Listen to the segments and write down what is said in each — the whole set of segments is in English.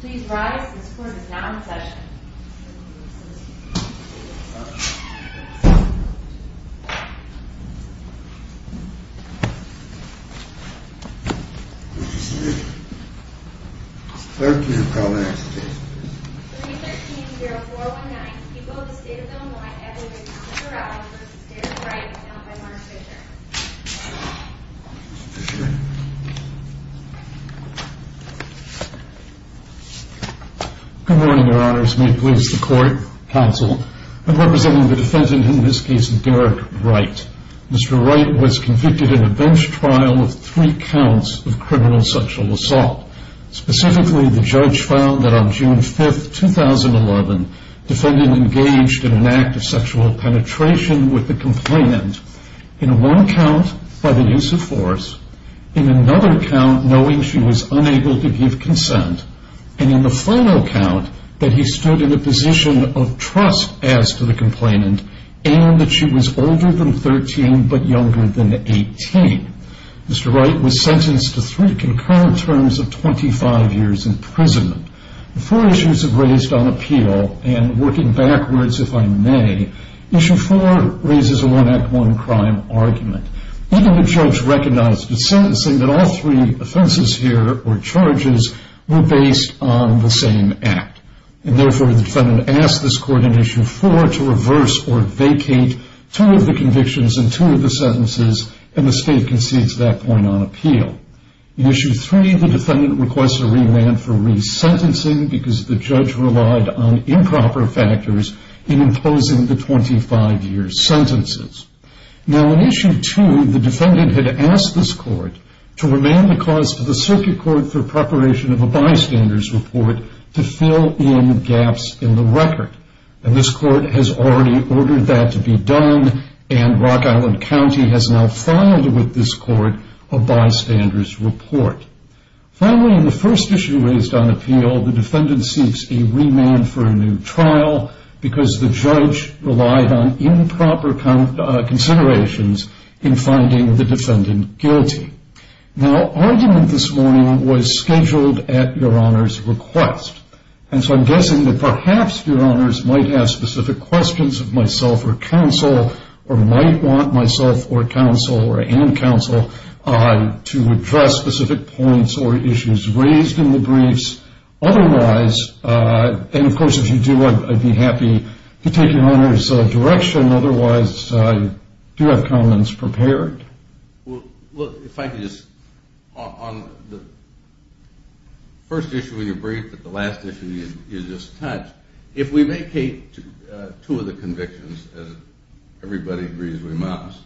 Please rise, this court is now in session. What did she say? It's 13. Call the next case, please. 313-0419, people of the state of Illinois, Edwin B. Brown v. David Wright, accounted by Mark Fisher. Mr. Fisher? Good morning, your honors. May it please the court, counsel, I'm representing the defendant in this case, Derek Wright. Mr. Wright was convicted in a bench trial of three counts of criminal sexual assault. Specifically, the judge found that on June 5, 2011, defendant engaged in an act of sexual penetration with the complainant in one count by the use of force, in another count knowing she was unable to give consent, and in the final count that he stood in a position of trust as to the complainant and that she was older than 13 but younger than 18. Mr. Wright was sentenced to three concurrent terms of 25 years imprisonment. The four issues have raised on appeal, and working backwards, if I may, issue four raises a one-act-one-crime argument. Even the judge recognized in sentencing that all three offenses here, or charges, were based on the same act, and therefore the defendant asked this court in issue four to reverse or vacate two of the convictions and two of the sentences, and the state concedes that point on appeal. In issue three, the defendant requests a re-land for resentencing because the judge relied on improper factors in imposing the 25-year sentences. Now, in issue two, the defendant had asked this court to remain the cause of the circuit court for preparation of a bystander's report to fill in gaps in the record, and this court has already ordered that to be done, and Rock Island County has now filed with this court a bystander's report. Finally, in the first issue raised on appeal, the defendant seeks a re-land for a new trial because the judge relied on improper considerations in finding the defendant guilty. Now, argument this morning was scheduled at Your Honor's request, and so I'm guessing that perhaps Your Honors might have specific questions of myself or counsel or might want myself or counsel or and counsel to address specific points or issues raised in the briefs. Otherwise, and of course if you do, I'd be happy to take Your Honor's direction. Otherwise, do you have comments prepared? Well, if I could just, on the first issue of your brief, but the last issue you just touched, if we make two of the convictions, as everybody agrees we must,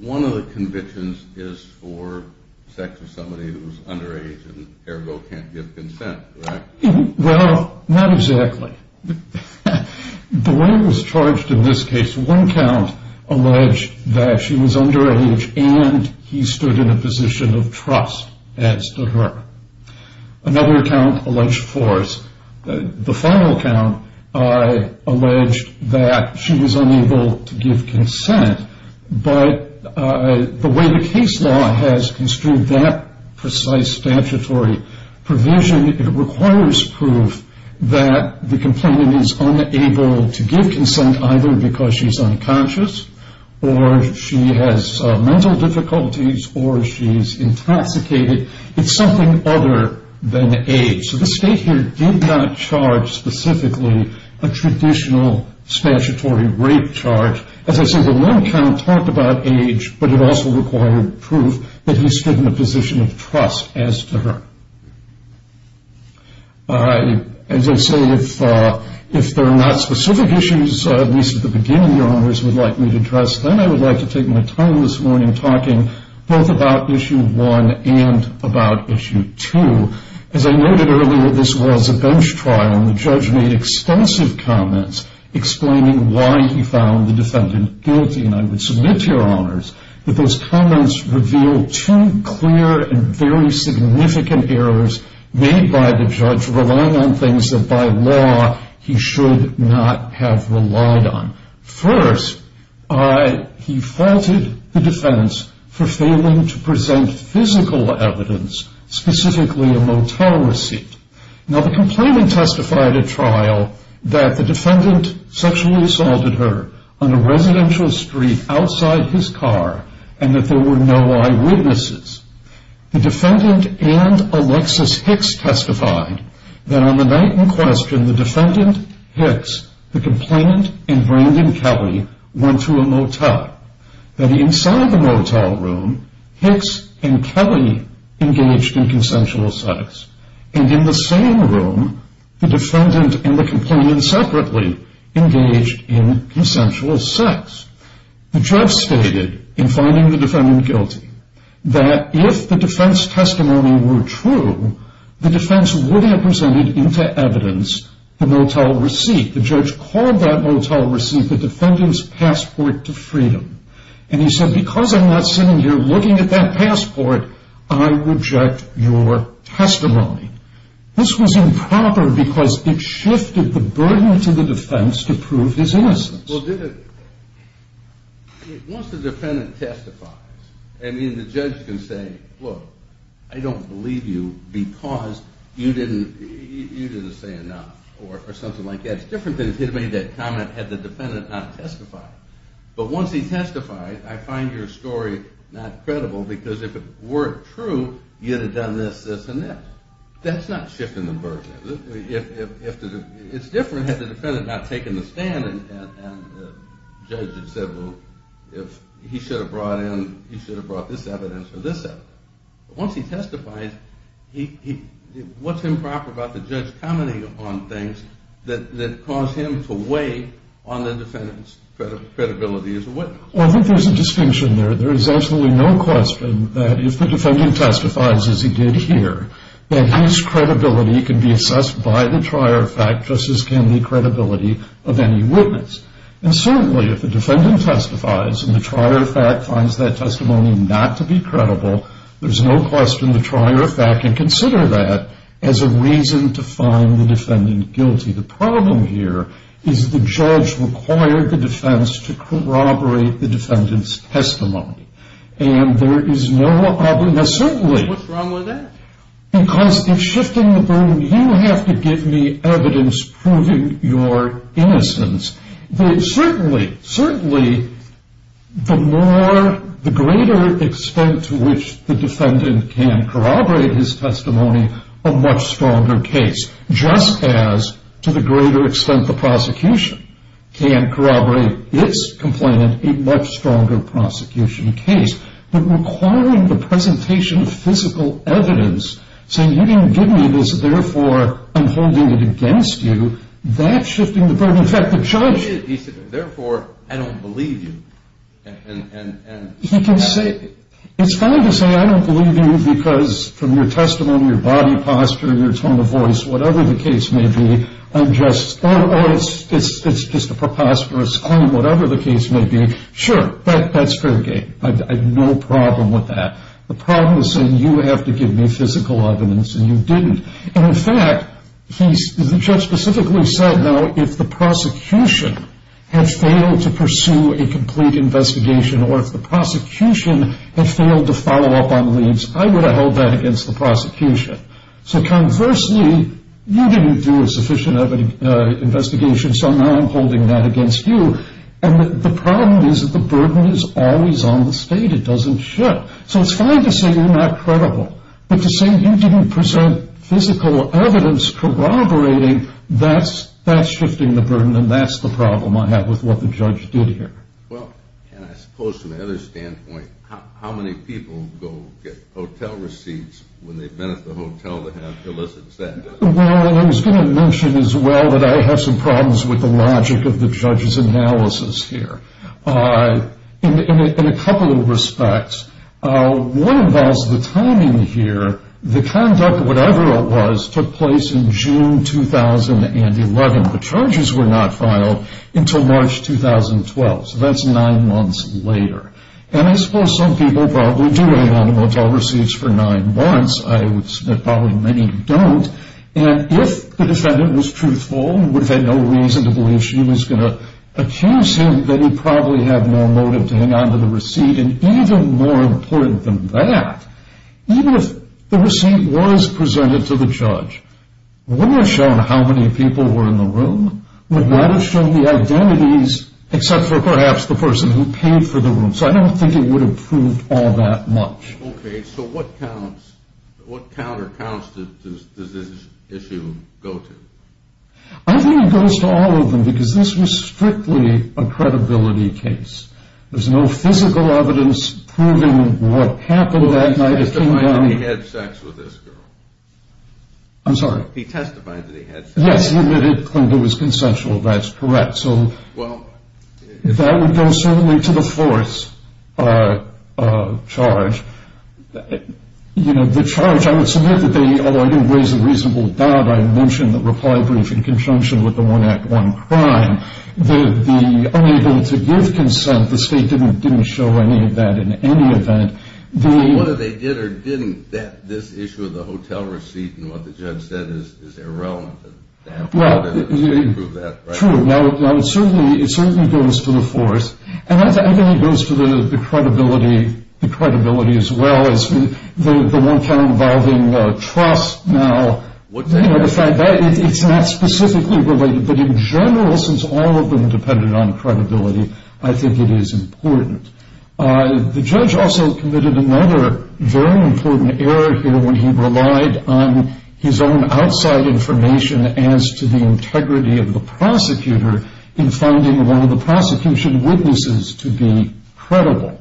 one of the convictions is for sex with somebody who's underage and therefore can't give consent, correct? Well, not exactly. The way it was charged in this case, one count alleged that she was underage and he stood in a position of trust as to her. Another count alleged force. The final count alleged that she was unable to give consent, but the way the case law has construed that precise statutory provision, it requires proof that the complainant is unable to give consent either because she's unconscious or she has mental difficulties or she's intoxicated. It's something other than age. So the state here did not charge specifically a traditional statutory rape charge. As I said, the one count talked about age, but it also required proof that he stood in a position of trust as to her. As I say, if there are not specific issues, at least at the beginning, Your Honors would like me to address, then I would like to take my time this morning talking both about issue one and about issue two. As I noted earlier, this was a bench trial, and the judge made extensive comments explaining why he found the defendant guilty, and I would submit to Your Honors that those comments revealed two clear and very significant errors made by the judge relying on things that by law he should not have relied on. First, he faulted the defense for failing to present physical evidence, specifically a motel receipt. Now, the complainant testified at trial that the defendant sexually assaulted her on a residential street outside his car and that there were no eyewitnesses. The defendant and Alexis Hicks testified that on the night in question, the defendant, Hicks, the complainant, and Brandon Kelly went to a motel, that inside the motel room, Hicks and Kelly engaged in consensual sex, and in the same room, the defendant and the complainant separately engaged in consensual sex. The judge stated in finding the defendant guilty that if the defense testimony were true, the defense would have presented into evidence the motel receipt. The judge called that motel receipt the defendant's passport to freedom, and he said, because I'm not sitting here looking at that passport, I reject your testimony. This was improper because it shifted the burden to the defense to prove his innocence. Once the defendant testifies, I mean, the judge can say, look, I don't believe you because you didn't say enough, or something like that. It's different than if he had made that comment had the defendant not testified. But once he testified, I find your story not credible because if it weren't true, you'd have done this, this, and this. That's not shifting the burden. It's different had the defendant not taken the stand and the judge had said, well, if he should have brought in, he should have brought this evidence or this evidence. But once he testifies, what's improper about the judge commenting on things that cause him to weigh on the defendant's credibility as a witness? Well, I think there's a distinction there. There is absolutely no question that if the defendant testifies, as he did here, that his credibility can be assessed by the trier of fact just as can the credibility of any witness. And certainly if the defendant testifies and the trier of fact finds that testimony not to be credible, there's no question the trier of fact can consider that as a reason to find the defendant guilty. The problem here is the judge required the defense to corroborate the defendant's testimony. And there is no other. Now, certainly. What's wrong with that? Because if shifting the burden, you have to give me evidence proving your innocence. Certainly, the greater extent to which the defendant can corroborate his testimony, a much stronger case, just as to the greater extent the prosecution can corroborate its complainant, a much stronger prosecution case. But requiring the presentation of physical evidence, saying you didn't give me this, therefore I'm holding it against you, that's shifting the burden. In fact, the judge. He said, therefore, I don't believe you. He can say. It's fine to say I don't believe you because from your testimony, your body posture, your tone of voice, whatever the case may be, I'm just, oh, it's just a preposterous claim, whatever the case may be. Sure, that's fair game. I have no problem with that. The problem is saying you have to give me physical evidence and you didn't. And, in fact, the judge specifically said, now, if the prosecution had failed to pursue a complete investigation or if the prosecution had failed to follow up on the leads, I would have held that against the prosecution. So, conversely, you didn't do a sufficient investigation, so now I'm holding that against you. And the problem is that the burden is always on the state. It doesn't shift. So it's fine to say you're not credible. But to say you didn't present physical evidence corroborating, that's shifting the burden, and that's the problem I have with what the judge did here. Well, and I suppose from the other standpoint, how many people go get hotel receipts when they've been at the hotel to have illicit sex? Well, I was going to mention as well that I have some problems with the logic of the judge's analysis here. In a couple of respects, one involves the timing here. The conduct, whatever it was, took place in June 2011. The charges were not filed until March 2012, so that's nine months later. And I suppose some people probably do hang on to hotel receipts for nine months. I would submit probably many don't. And if the defendant was truthful and would have had no reason to believe she was going to accuse him, then he'd probably have no motive to hang on to the receipt. And even more important than that, even if the receipt was presented to the judge, would it have shown how many people were in the room? Would that have shown the identities except for perhaps the person who paid for the room? So I don't think it would have proved all that much. Okay, so what counter counts does this issue go to? I think it goes to all of them because this was strictly a credibility case. There's no physical evidence proving what happened that night. Well, he testified that he had sex with this girl. I'm sorry? He testified that he had sex. Yes, he admitted that it was consensual. That's correct. So that would go certainly to the fourth charge. You know, the charge, I would submit that they, although I didn't raise a reasonable doubt, I mentioned the reply brief in conjunction with the one act, one crime. The unable to give consent, the state didn't show any of that in any event. So whether they did or didn't, this issue of the hotel receipt and what the judge said is irrelevant. Well, true. Now, it certainly goes to the fourth. And I think it goes to the credibility as well as the one count involving trust. Now, the fact that it's not specifically related, but in general, since all of them depended on credibility, I think it is important. The judge also committed another very important error here when he relied on his own outside information as to the integrity of the prosecutor in finding one of the prosecution witnesses to be credible.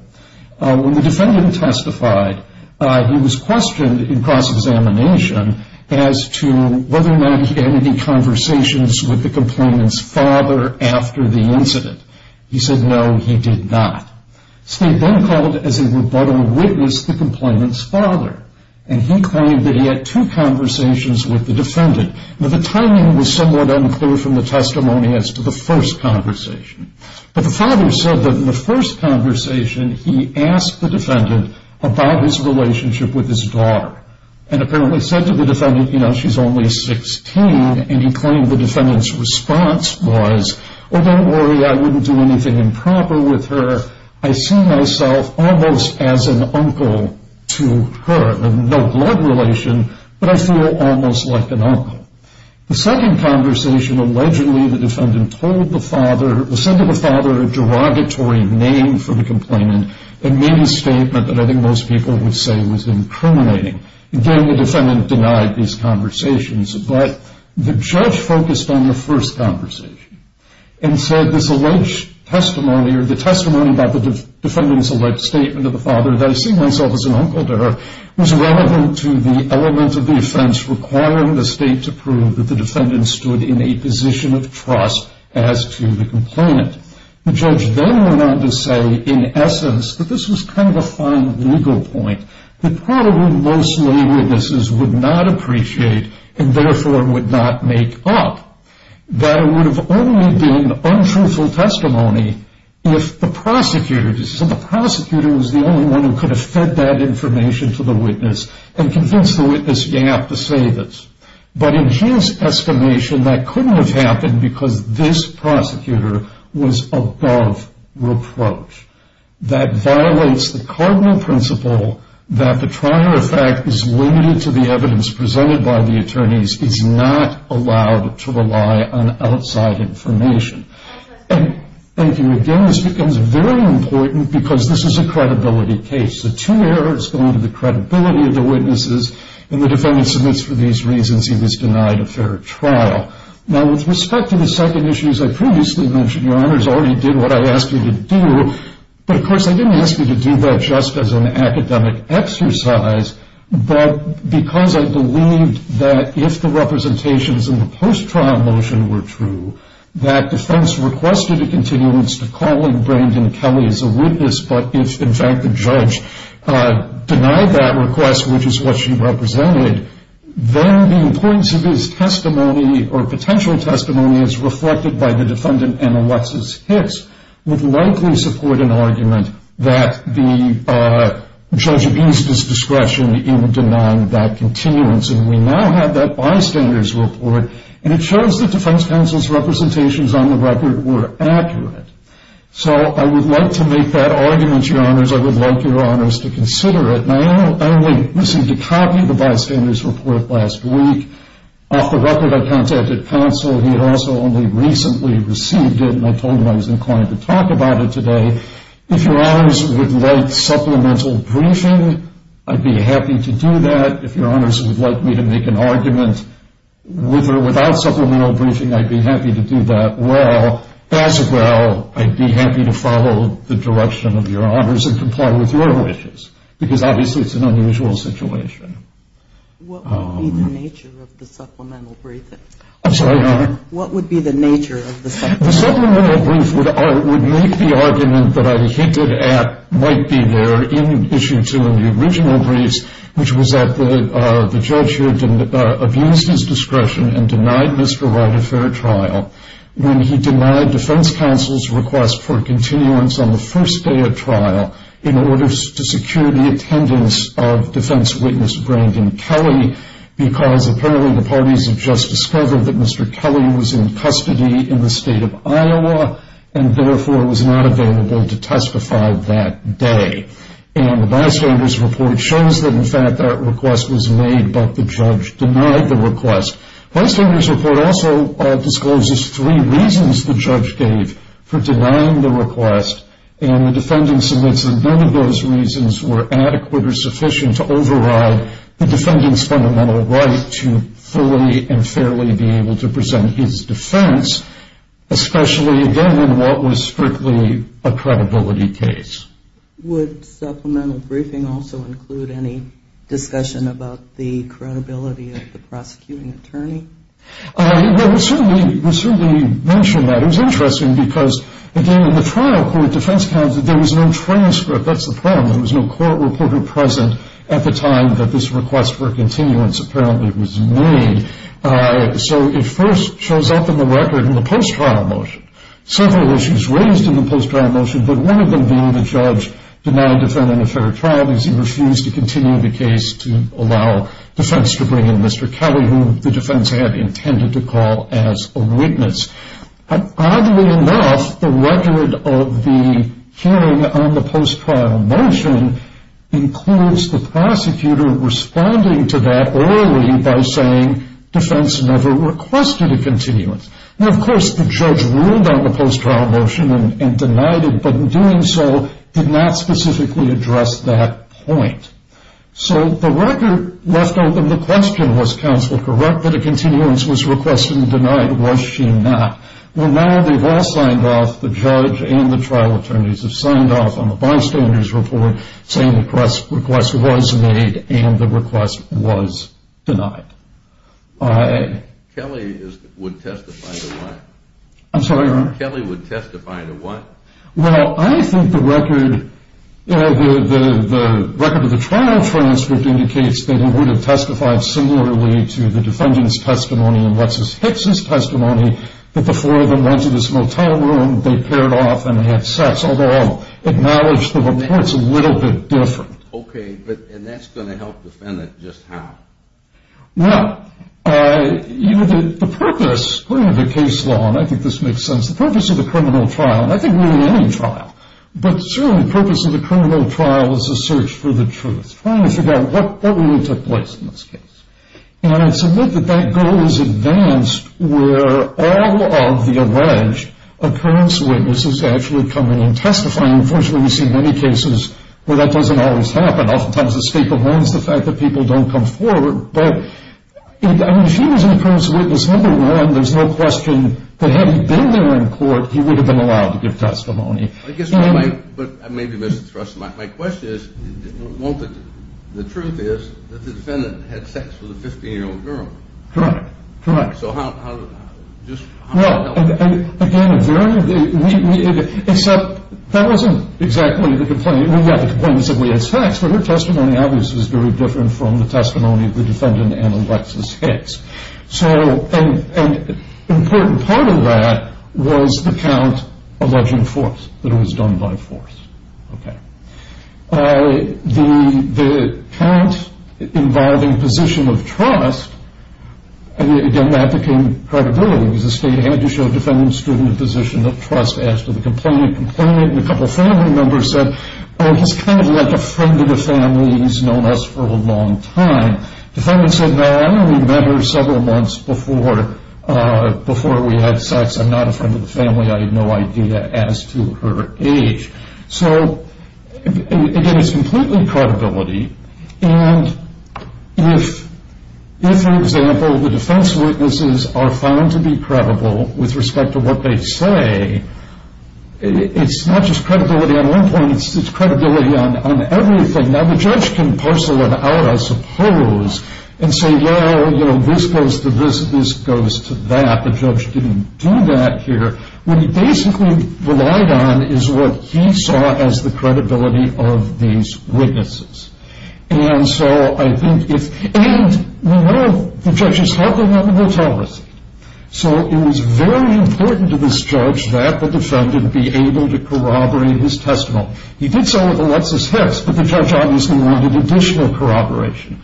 When the defendant testified, he was questioned in cross-examination as to whether or not he had any conversations with the complainant's father after the incident. He said no, he did not. The state then called as a rebuttal witness the complainant's father. Now, the timing was somewhat unclear from the testimony as to the first conversation. But the father said that in the first conversation, he asked the defendant about his relationship with his daughter and apparently said to the defendant, you know, she's only 16, and he claimed the defendant's response was, oh, don't worry, I wouldn't do anything improper with her. I see myself almost as an uncle to her. No blood relation, but I feel almost like an uncle. The second conversation, allegedly the defendant told the father, said to the father a derogatory name for the complainant and made a statement that I think most people would say was incriminating. Again, the defendant denied these conversations, but the judge focused on the first conversation and said this alleged testimony or the testimony about the defendant's alleged statement to the father that I see myself as an uncle to her was relevant to the element of the offense requiring the state to prove that the defendant stood in a position of trust as to the complainant. The judge then went on to say, in essence, that this was kind of a fine legal point that probably most lay witnesses would not appreciate and therefore would not make up, that it would have only been untruthful testimony if the prosecutor did so. The prosecutor was the only one who could have fed that information to the witness and convinced the witness he had to save it. But in his estimation, that couldn't have happened because this prosecutor was above reproach. That violates the cardinal principle that the trial, in fact, is limited to the evidence presented by the attorneys, is not allowed to rely on outside information. Thank you again. This becomes very important because this is a credibility case. The two errors go into the credibility of the witnesses, and the defendant submits for these reasons he was denied a fair trial. Now, with respect to the second issue, as I previously mentioned, I didn't ask you to do that just as an academic exercise, but because I believed that if the representations in the post-trial motion were true, that defense requested a continuance to calling Brandon Kelly as a witness, but if, in fact, the judge denied that request, which is what she represented, then the importance of his testimony or potential testimony as reflected by the defendant and Alexis Hicks would likely support an argument that the judge eased his discretion in denying that continuance. And we now have that bystander's report, and it shows that defense counsel's representations on the record were accurate. So I would like to make that argument, Your Honors. I would like Your Honors to consider it. And I only received a copy of the bystander's report last week. Off the record, I contacted counsel. He had also only recently received it, and I told him I was inclined to talk about it today. If Your Honors would like supplemental briefing, I'd be happy to do that. If Your Honors would like me to make an argument with or without supplemental briefing, I'd be happy to do that. Well, as well, I'd be happy to follow the direction of Your Honors and comply with your wishes, because obviously it's an unusual situation. What would be the nature of the supplemental briefing? I'm sorry, Your Honor? What would be the nature of the supplemental briefing? The supplemental briefing would make the argument that I hinted at might be there in Issue 2 in the original briefs, which was that the judge here abused his discretion and denied Mr. Wright a fair trial when he denied defense counsel's request for continuance on the first day of trial in order to secure the attendance of defense witness Brandon Kelly, because apparently the parties had just discovered that Mr. Kelly was in custody in the state of Iowa and therefore was not available to testify that day. And the bystander's report shows that, in fact, that request was made, but the judge denied the request. The bystander's report also discloses three reasons the judge gave for denying the request, and the defendant submits that none of those reasons were adequate or sufficient to override the defendant's fundamental right to fully and fairly be able to present his defense, especially, again, in what was strictly a credibility case. Would supplemental briefing also include any discussion about the credibility of the prosecuting attorney? Well, it certainly mentioned that. It was interesting because, again, in the trial court, defense counsel, there was no transcript. That's the problem. There was no court reporter present at the time that this request for continuance apparently was made. So it first shows up in the record in the post-trial motion. Several issues raised in the post-trial motion, but one of them being the judge denied the defendant a fair trial because he refused to continue the case to allow defense to bring in Mr. Kelly, who the defense had intended to call as a witness. Oddly enough, the record of the hearing on the post-trial motion includes the prosecutor responding to that early by saying defense never requested a continuance. Now, of course, the judge ruled on the post-trial motion and denied it, but in doing so did not specifically address that point. So the record left open the question, was counsel correct that a continuance was requested and denied? Was she not? Well, now they've all signed off, the judge and the trial attorneys have signed off on the bystander's report saying the request was made and the request was denied. Kelly would testify to what? I'm sorry? Kelly would testify to what? Well, I think the record of the trial transcript indicates that he would have testified similarly to the defendant's testimony and Lexis Hicks' testimony that the four of them went to this motel room, they paired off, and they had sex, although I'll acknowledge the report's a little bit different. Okay, and that's going to help defend it just how? Well, the purpose, according to the case law, and I think this makes sense, the purpose of the criminal trial, and I think more than any trial, but certainly the purpose of the criminal trial is to search for the truth, trying to figure out what really took place in this case. And I'd submit that that goal is advanced where all of the alleged occurrence witnesses actually come in and testify. Unfortunately, we see many cases where that doesn't always happen. Oftentimes the scapegoat is the fact that people don't come forward, but if she was an occurrence witness, number one, there's no question that had he been there in court, he would have been allowed to give testimony. I guess my question is, the truth is that the defendant had sex with a 15-year-old girl. Correct, correct. So how does that help? Well, again, except that wasn't exactly the complaint. Well, yeah, the complaint was that we had sex, but her testimony obviously was very different from the testimony of the defendant and Alexis Hicks. And an important part of that was the count alleging force, that it was done by force. The count involving position of trust, and again, that became credibility. It was a state antitrust defendant student in position of trust asked for the complaint, and a couple of family members said, oh, he's kind of like a friend of the family. He's known us for a long time. The defendant said, no, I only met her several months before we had sex. I'm not a friend of the family. I had no idea as to her age. So, again, it's completely credibility. And if, for example, the defense witnesses are found to be credible with respect to what they say, it's not just credibility on one point, it's credibility on everything. Now, the judge can parcel it out, I suppose, and say, well, you know, this goes to this, this goes to that. The judge didn't do that here. What he basically relied on is what he saw as the credibility of these witnesses. And so I think if, and, you know, the judge is helping him, he'll tell us. So it was very important to this judge that the defendant be able to corroborate his testimony. He did so with Alexis Hicks, but the judge obviously wanted additional corroboration.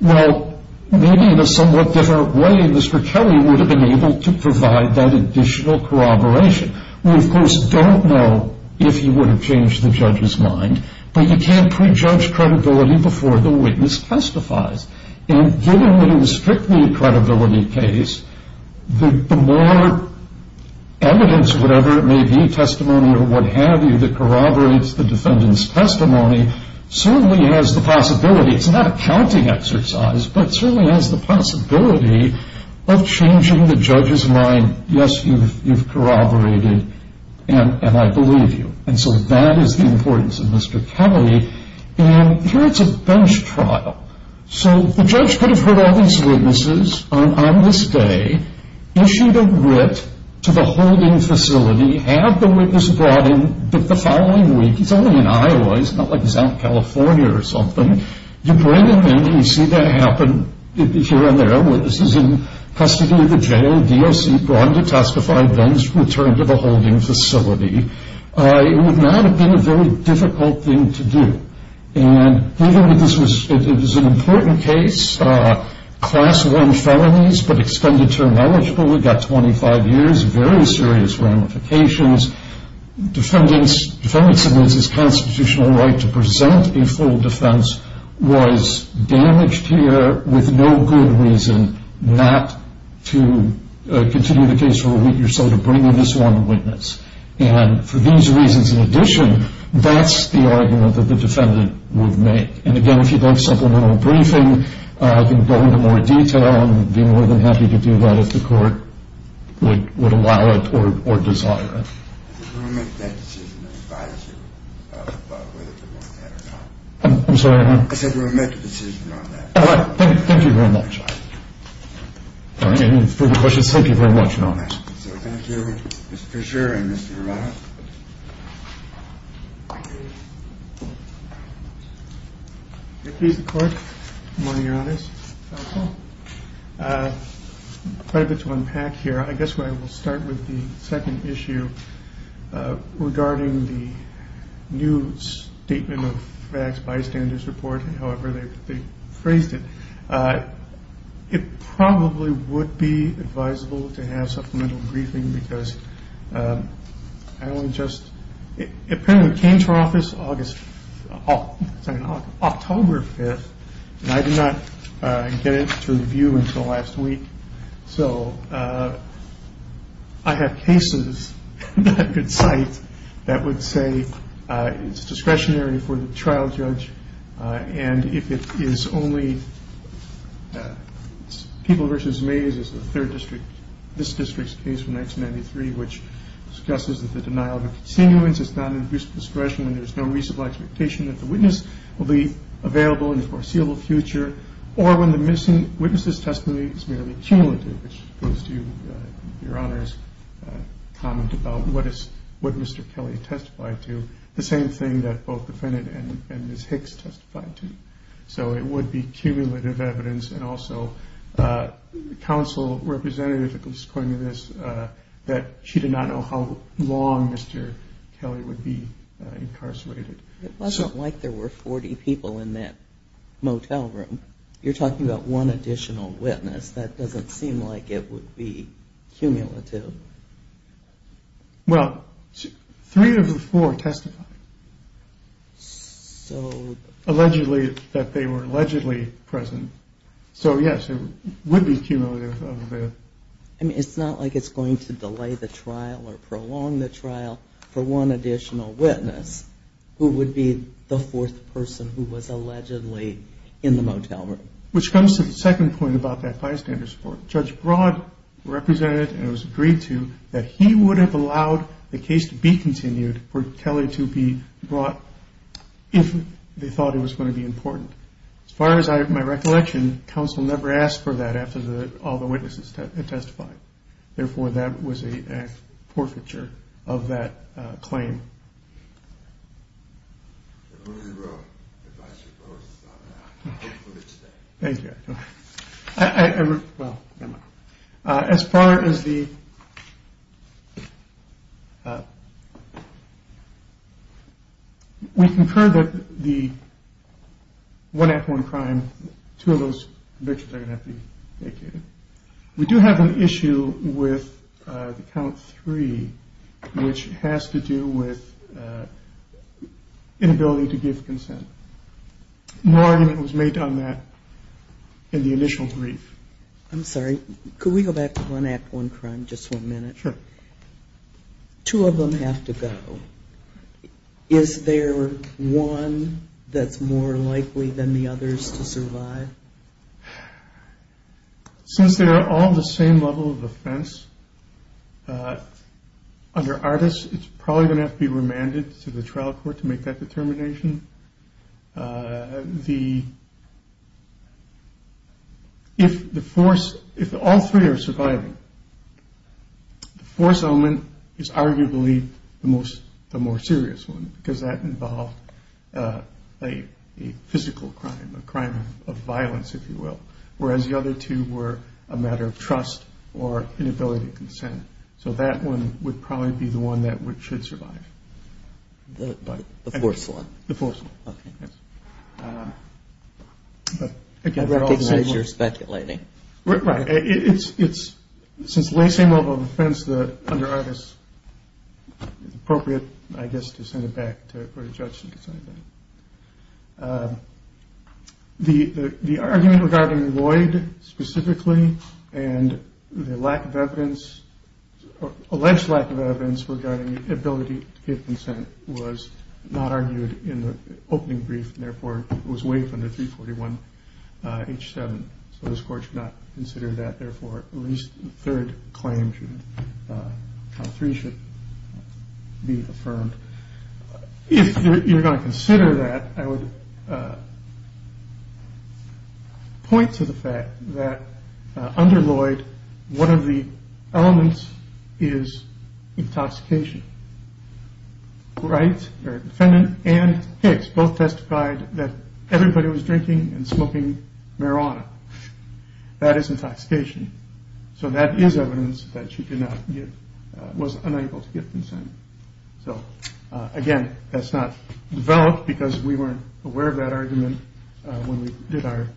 Well, maybe in a somewhat different way, Mr. Kelly would have been able to provide that additional corroboration. We, of course, don't know if he would have changed the judge's mind, but you can't prejudge credibility before the witness testifies. And given that it was strictly a credibility case, the more evidence, whatever it may be, testimony or what have you, that corroborates the defendant's testimony certainly has the possibility, it's not a counting exercise, but certainly has the possibility of changing the judge's mind, yes, you've corroborated, and I believe you. And so that is the importance of Mr. Kelly. And here it's a bench trial. So the judge could have heard all these witnesses on this day, issued a writ to the holding facility, had the witness brought in the following week, he's only in Iowa, he's not like South California or something. You bring him in, you see that happen here and there, witnesses in custody of the jail, DOC brought in to testify, then returned to the holding facility. It would not have been a very difficult thing to do. And given that this was an important case, Class I felonies, but extended term eligible, we've got 25 years, very serious ramifications, defendant submits his constitutional right to present a full defense, was damaged here with no good reason not to continue the case for a week or so, to bring in this one witness. And for these reasons in addition, that's the argument that the defendant would make. And again, if you'd like supplemental briefing, I can go into more detail, I'd be more than happy to do that if the court would allow it or desire it. We'll make that decision and advise you about whether to do that or not. I'm sorry, what? I said we'll make a decision on that. All right, thank you very much. And for the questions, thank you very much. So thank you, Mr. Fisher and Mr. Romano. If he's the court, I'm going to be honest. Quite a bit to unpack here. I guess where I will start with the second issue regarding the new statement of facts bystanders report, however they phrased it, it probably would be advisable to have supplemental briefing because I only just apparently came to office October 5th, and I did not get it to review until last week. So I have cases that I could cite that would say it's discretionary for the trial judge, and if it is only People v. Mays is the third district, this district's case from 1993, which discusses that the denial of a continuance is not an abuse of discretion when there's no reasonable expectation that the witness will be available in the foreseeable future or when the missing witness's testimony is merely cumulative, which goes to Your Honor's comment about what Mr. Kelly testified to, the same thing that both the defendant and Ms. Hicks testified to. So it would be cumulative evidence, and also counsel representative is quoting this that she did not know how long Mr. Kelly would be incarcerated. It wasn't like there were 40 people in that motel room. You're talking about one additional witness. That doesn't seem like it would be cumulative. Well, three of the four testified that they were allegedly present. So yes, it would be cumulative. I mean, it's not like it's going to delay the trial or prolong the trial for one additional witness who would be the fourth person who was allegedly in the motel room. Which comes to the second point about that bystander support. Judge Broad represented and it was agreed to that he would have allowed the case to be continued for Kelly to be brought if they thought it was going to be important. As far as my recollection, counsel never asked for that after all the witnesses had testified. Therefore, that was a forfeiture of that claim. Thank you. As far as the, we concur that the one act, one crime, two of those convictions are going to have to be vacated. We do have an issue with the count three, which has to do with inability to give consent. No argument was made on that in the initial brief. I'm sorry. Could we go back to one act, one crime, just one minute? Sure. Two of them have to go. Is there one that's more likely than the others to survive? Since they are all on the same level of offense, under ARDIS, it's probably going to have to be remanded to the trial court to make that determination. The, if the force, if all three are surviving, the force element is arguably the more serious one, because that involved a physical crime, a crime of violence, if you will, whereas the other two were a matter of trust or inability to consent. So that one would probably be the one that should survive. The force one? The force one. Okay. But, again, they're all the same one. I take it you're speculating. Right. It's, since they're on the same level of offense, under ARDIS, it's appropriate, I guess, to send it back to court of judgment to say that. The argument regarding Lloyd specifically and the lack of evidence, alleged lack of evidence regarding the ability to give consent was not argued in the opening brief and, therefore, was waived under 341 H7. So this court should not consider that. Therefore, at least the third claim should be affirmed. If you're going to consider that, I would point to the fact that under Lloyd, one of the elements is intoxication. Wright, our defendant, and Hicks both testified that everybody was drinking and smoking marijuana. That is intoxication. So that is evidence that she did not give, was unable to give consent. So, again, that's not developed because we weren't aware of that argument when we did our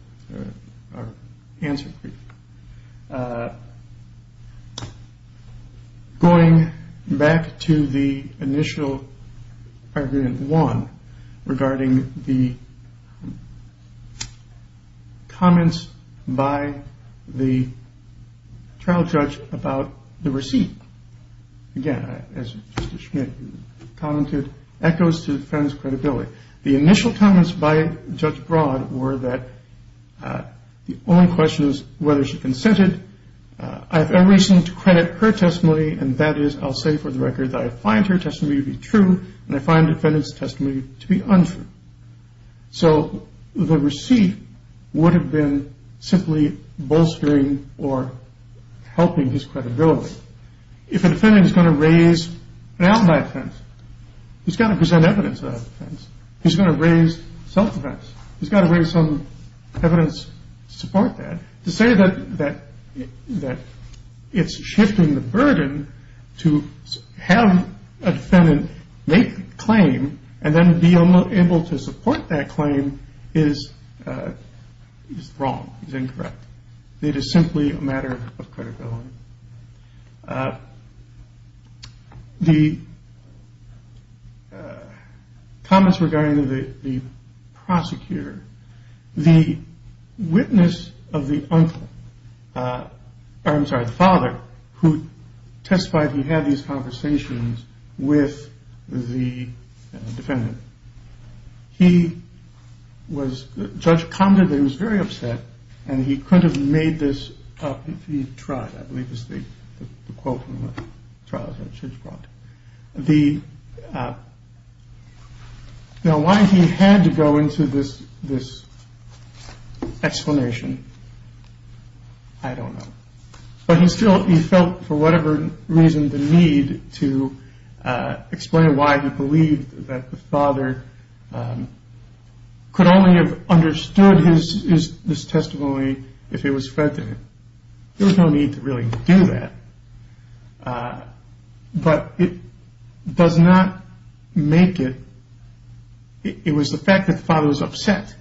answer brief. Going back to the initial argument one regarding the comments by the trial judge about the receipt. Again, as Mr. Schmidt commented, echoes to the defendant's credibility. The initial comments by Judge Broad were that the only question is whether she consented. I have every reason to credit her testimony, and that is, I'll say for the record, that I find her testimony to be true and I find the defendant's testimony to be untrue. So the receipt would have been simply bolstering or helping his credibility. If a defendant is going to raise an outlier defense, he's got to present evidence of that defense. He's going to raise self-defense. He's got to raise some evidence to support that. To say that it's shifting the burden to have a defendant make the claim and then be able to support that claim is wrong, is incorrect. It is simply a matter of credibility. The comments regarding the prosecutor, the witness of the uncle, I'm sorry, the father, who testified he had these conversations with the defendant, he was, Judge commented that he was very upset and he could have made this up if he'd tried, I believe is the quote from the trial that Judge brought. Now, why he had to go into this explanation, I don't know. But he still felt, for whatever reason, the need to explain why he believed that the father could only have understood his testimony if it was fed to him. There was no need to really do that. But it does not make it. It was the fact that the father was upset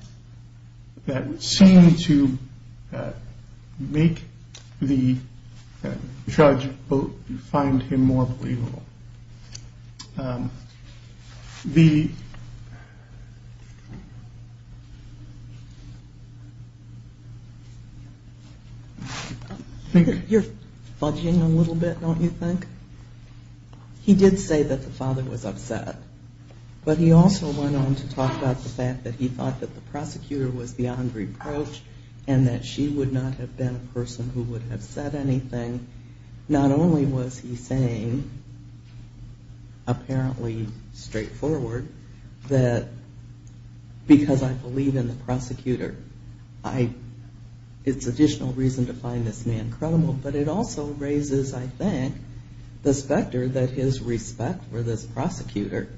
that seemed to make the judge find him more believable. You're fudging a little bit, don't you think? He did say that the father was upset. But he also went on to talk about the fact that he thought that the prosecutor was beyond reproach and that she would not have been a person who would have said anything. Not only was he saying, apparently straightforward, that because I believe in the prosecutor, it's additional reason to find this man credible, but it also raises, I think, the specter that his respect for this prosecutor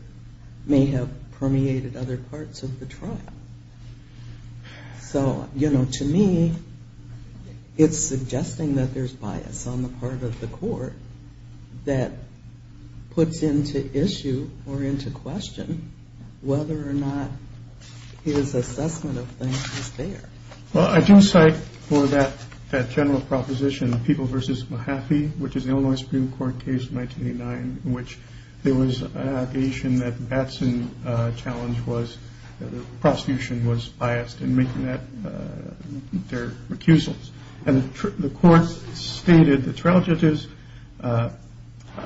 may have permeated other parts of the trial. So, you know, to me, it's suggesting that there's bias on the part of the court that puts into issue or into question whether or not his assessment of things is there. Well, I do cite for that general proposition, People v. Mahaffey, which is the Illinois Supreme Court case of 1989, in which there was an allegation that Batson's challenge was that the prosecution was biased in making their recusals. And the court stated the trial judges are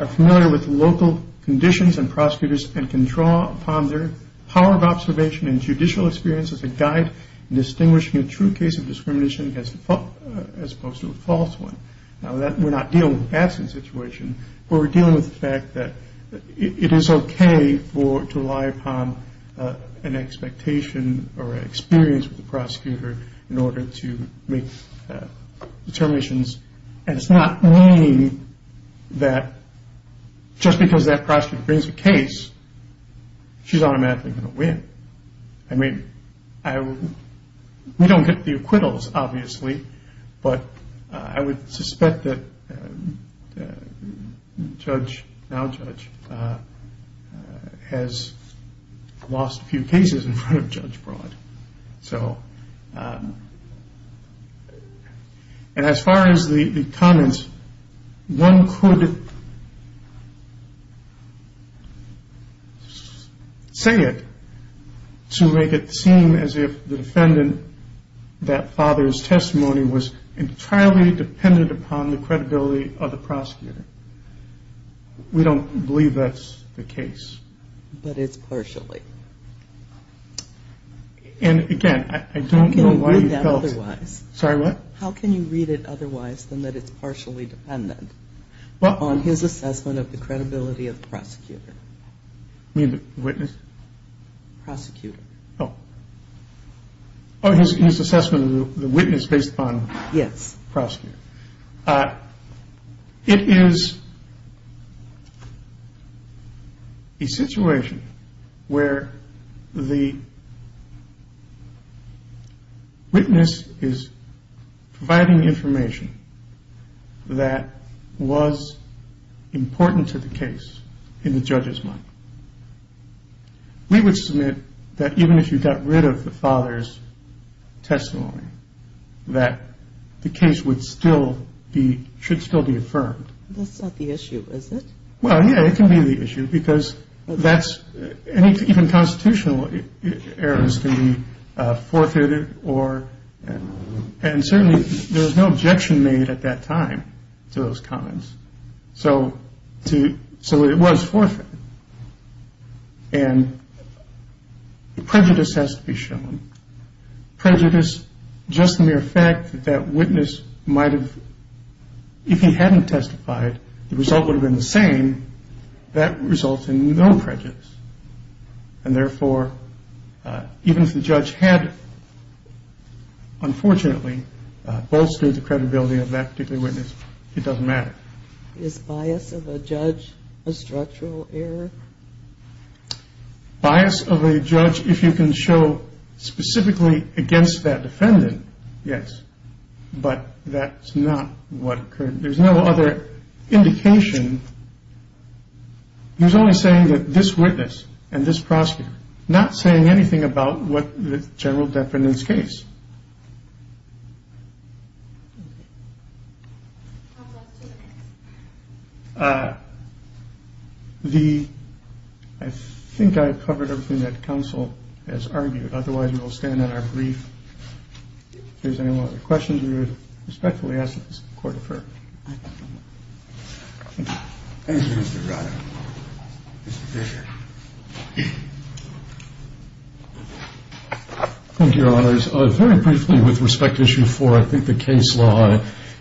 familiar with local conditions and prosecutors and can draw upon their power of observation and judicial experience as a guide in distinguishing a true case of discrimination as opposed to a false one. Now, we're not dealing with Batson's situation, but we're dealing with the fact that it is okay to rely upon an expectation or an experience with the prosecutor in order to make determinations. And it's not lame that just because that prosecutor brings a case, she's automatically going to win. I mean, we don't get the acquittals, obviously, but I would suspect that the judge, now judge, has lost a few cases in front of Judge Broad. And as far as the comments, one could say it to make it seem as if the defendant, that father's testimony was entirely dependent upon the credibility of the prosecutor. We don't believe that's the case. But it's partially. And, again, I don't know why you felt it. Sorry, what? How can you read it otherwise than that it's partially dependent on his assessment of the credibility of the prosecutor? You mean the witness? Prosecutor. Oh. His assessment of the witness based upon the prosecutor. Yes. It is a situation where the witness is providing information that was important to the case in the judge's mind. We would submit that even if you got rid of the father's testimony, that the case would still be, should still be affirmed. That's not the issue, is it? Well, yeah, it can be the issue because that's, even constitutional errors can be forfeited or, and certainly there was no objection made at that time to those comments. So it was forfeited. And prejudice has to be shown. Prejudice, just the mere fact that that witness might have, if he hadn't testified, the result would have been the same. That results in no prejudice. And therefore, even if the judge had, unfortunately, bolstered the credibility of that particular witness, it doesn't matter. Is bias of a judge a structural error? Bias of a judge, if you can show specifically against that defendant, yes. But that's not what occurred. There's no other indication. He was only saying that this witness and this prosecutor, not saying anything about what the general defendant's case. The, I think I've covered everything that counsel has argued. Otherwise, we will stand on our brief. If there's any more questions, we respectfully ask that the court defer. Thank you, Mr. Rudder. Mr. Fisher. Thank you, Your Honors. Very briefly, with respect to issue four, I think the case law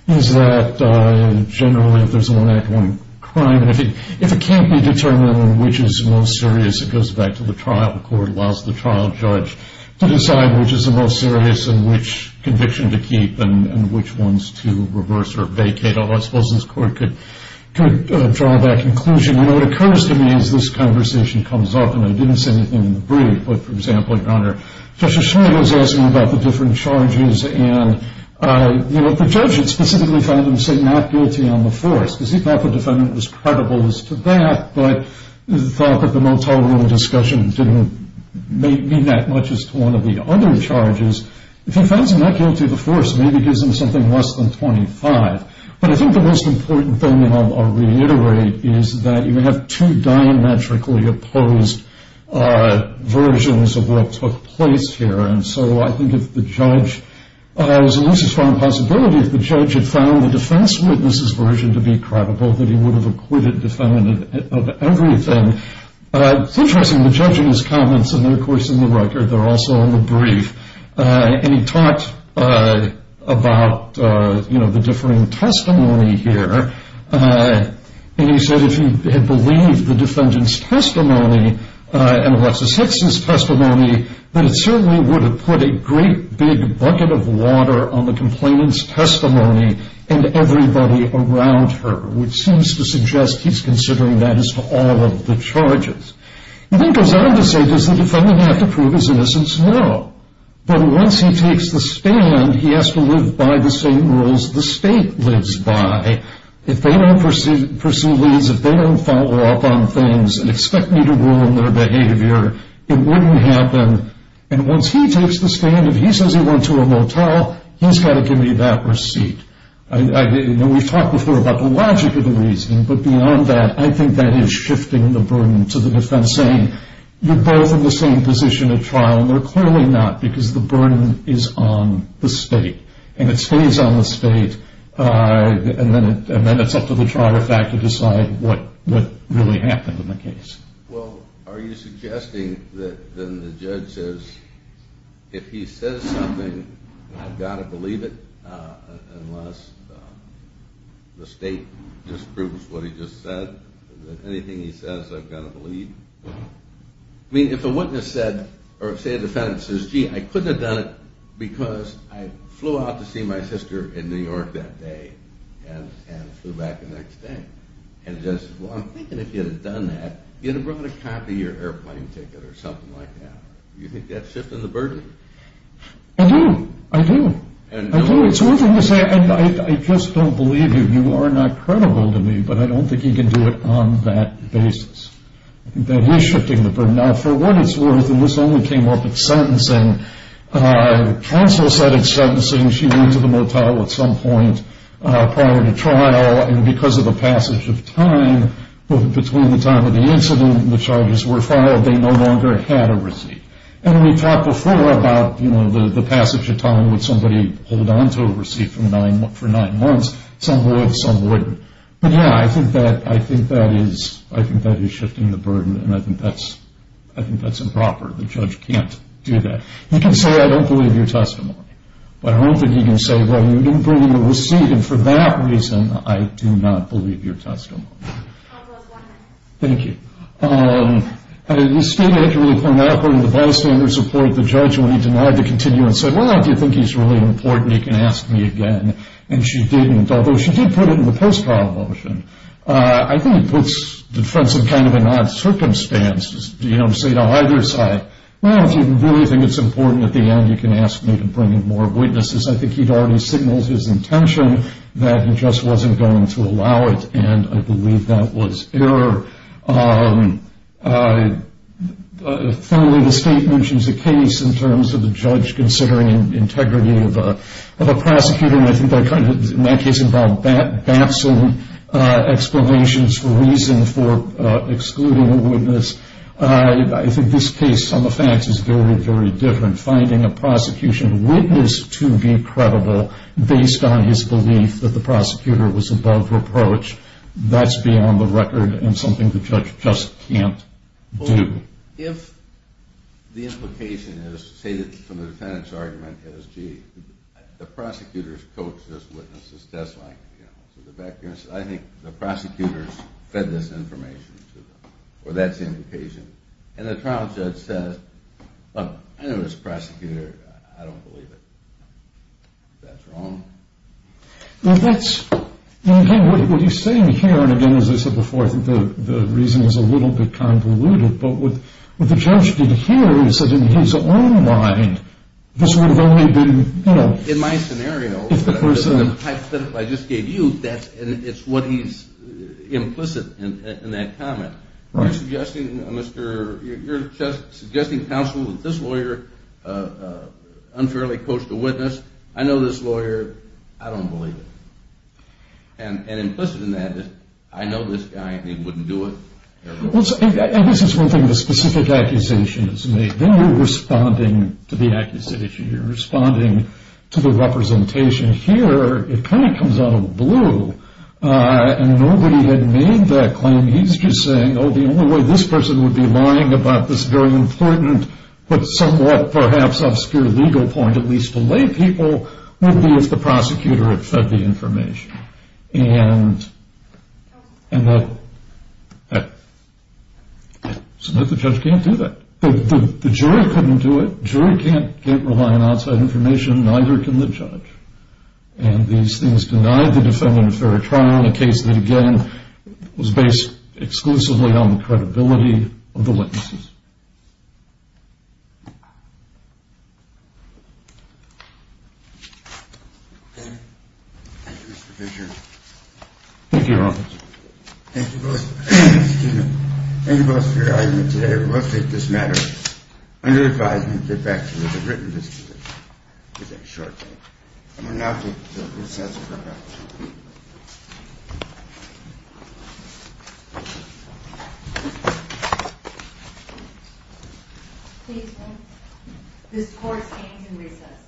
is that generally if there's a one-act-one crime, and I think if it can't be determined on which is the most serious, it goes back to the trial. The court allows the trial judge to decide which is the most serious and which conviction to keep and which ones to reverse or vacate. I suppose this court could draw that conclusion. You know, what occurs to me is this conversation comes up, and I didn't say anything in the brief, but, for example, Your Honor, Judge O'Shea was asking about the different charges, and the judge had specifically found him, say, not guilty on the fourth, because he thought the defendant was credible as to that, but thought that the Motel Room discussion didn't mean that much as to one of the other charges. If he found him not guilty of the fourth, maybe it gives him something less than 25. But I think the most important thing I'll reiterate is that you have two diametrically opposed versions of what took place here, and so I think if the judge, there's at least a strong possibility if the judge had found the defense witness's version to be credible that he would have acquitted the defendant of everything. It's interesting, the judge in his comments, and they're, of course, in the record, they're also in the brief, and he talked about, you know, the differing testimony here, and he said if he had believed the defendant's testimony and Alexis Hicks' testimony, then it certainly would have put a great big bucket of water on the complainant's testimony and everybody around her, which seems to suggest he's considering that as to all of the charges. He then goes on to say, does the defendant have to prove his innocence? No. But once he takes the stand, he has to live by the same rules the state lives by. If they don't pursue leads, if they don't follow up on things and expect me to rule in their behavior, it wouldn't happen, and once he takes the stand, if he says he went to a motel, he's got to give me that receipt. And we've talked before about the logic of the reasoning, but beyond that, I think that is shifting the burden to the defense saying, you're both in the same position at trial, and they're clearly not because the burden is on the state, and it stays on the state, and then it's up to the trial to decide what really happened in the case. Well, are you suggesting that then the judge says, if he says something, I've got to believe it, unless the state disproves what he just said, that anything he says, I've got to believe? I mean, if a witness said, or say a defendant says, gee, I couldn't have done it because I flew out to see my sister in New York that day and flew back the next day, and the judge says, well, I'm thinking if you'd have done that, you'd have brought a copy of your airplane ticket or something like that. Do you think that's shifting the burden? I do. I do. I do. It's one thing to say, I just don't believe you, you are not credible to me, but I don't think he can do it on that basis. I think that he's shifting the burden. Now, for what it's worth, and this only came up at sentencing, counsel said at sentencing she went to the motel at some point prior to trial, and because of the passage of time, between the time of the incident and the charges were filed, they no longer had a receipt. And we talked before about the passage of time, would somebody hold on to a receipt for nine months, some would, some wouldn't. But, yeah, I think that is shifting the burden, and I think that's improper. The judge can't do that. He can say, I don't believe your testimony, but I don't think he can say, well, you didn't bring your receipt, and for that reason, I do not believe your testimony. I'll close one minute. Thank you. The state actually pointed out, according to the bystander's report, the judge, when he denied the continuance, said, well, if you think he's really important, you can ask me again, and she didn't, although she did put it in the post-trial motion. I think it puts the defense in kind of an odd circumstance, you know, to say to either side, well, if you really think it's important at the end, you can ask me to bring in more witnesses. I think he'd already signaled his intention that he just wasn't going to allow it, and I believe that was error. Finally, the state mentions a case in terms of the judge considering integrity of a prosecutor, and I think that kind of, in that case, involved bapsing explanations for reason for excluding a witness. I think this case on the facts is very, very different. Finding a prosecution witness to be credible based on his belief that the prosecutor was above reproach, that's beyond the record and something the judge just can't do. If the implication is, say, from the defendant's argument is, gee, the prosecutor's coached this witness's testimony, you know, so the background says, I think the prosecutor's fed this information to them, or that's the implication, and the trial judge says, look, I know this prosecutor. I don't believe it. That's wrong. Well, that's, again, what he's saying here, and again, as I said before, I think the reason was a little bit convoluted, but what the judge did here is said in his own mind, this would have only been, you know. In my scenario, the type that I just gave you, that's, it's what he's implicit in that comment. You're suggesting counsel that this lawyer unfairly coached a witness. I know this lawyer. I don't believe it. And implicit in that is I know this guy and he wouldn't do it. I guess it's one thing the specific accusation is made. Then you're responding to the accusation. You're responding to the representation. Here it kind of comes out of the blue, and nobody had made that claim. He's just saying, oh, the only way this person would be lying about this very important but somewhat perhaps obscure legal point, at least to lay people, would be if the prosecutor had fed the information. And the judge can't do that. The jury couldn't do it. The jury can't rely on outside information. Neither can the judge. And these things denied the defendant a fair trial in a case that, again, was based exclusively on the credibility of the witnesses. Thank you, Mr. Fisher. Thank you, Your Honor. Thank you both. Excuse me. Thank you both for your argument today. We'll take this matter under advisement and get back to what was written this year. We'll take a short break. And we'll now take the recess and come back. This court stands in recess.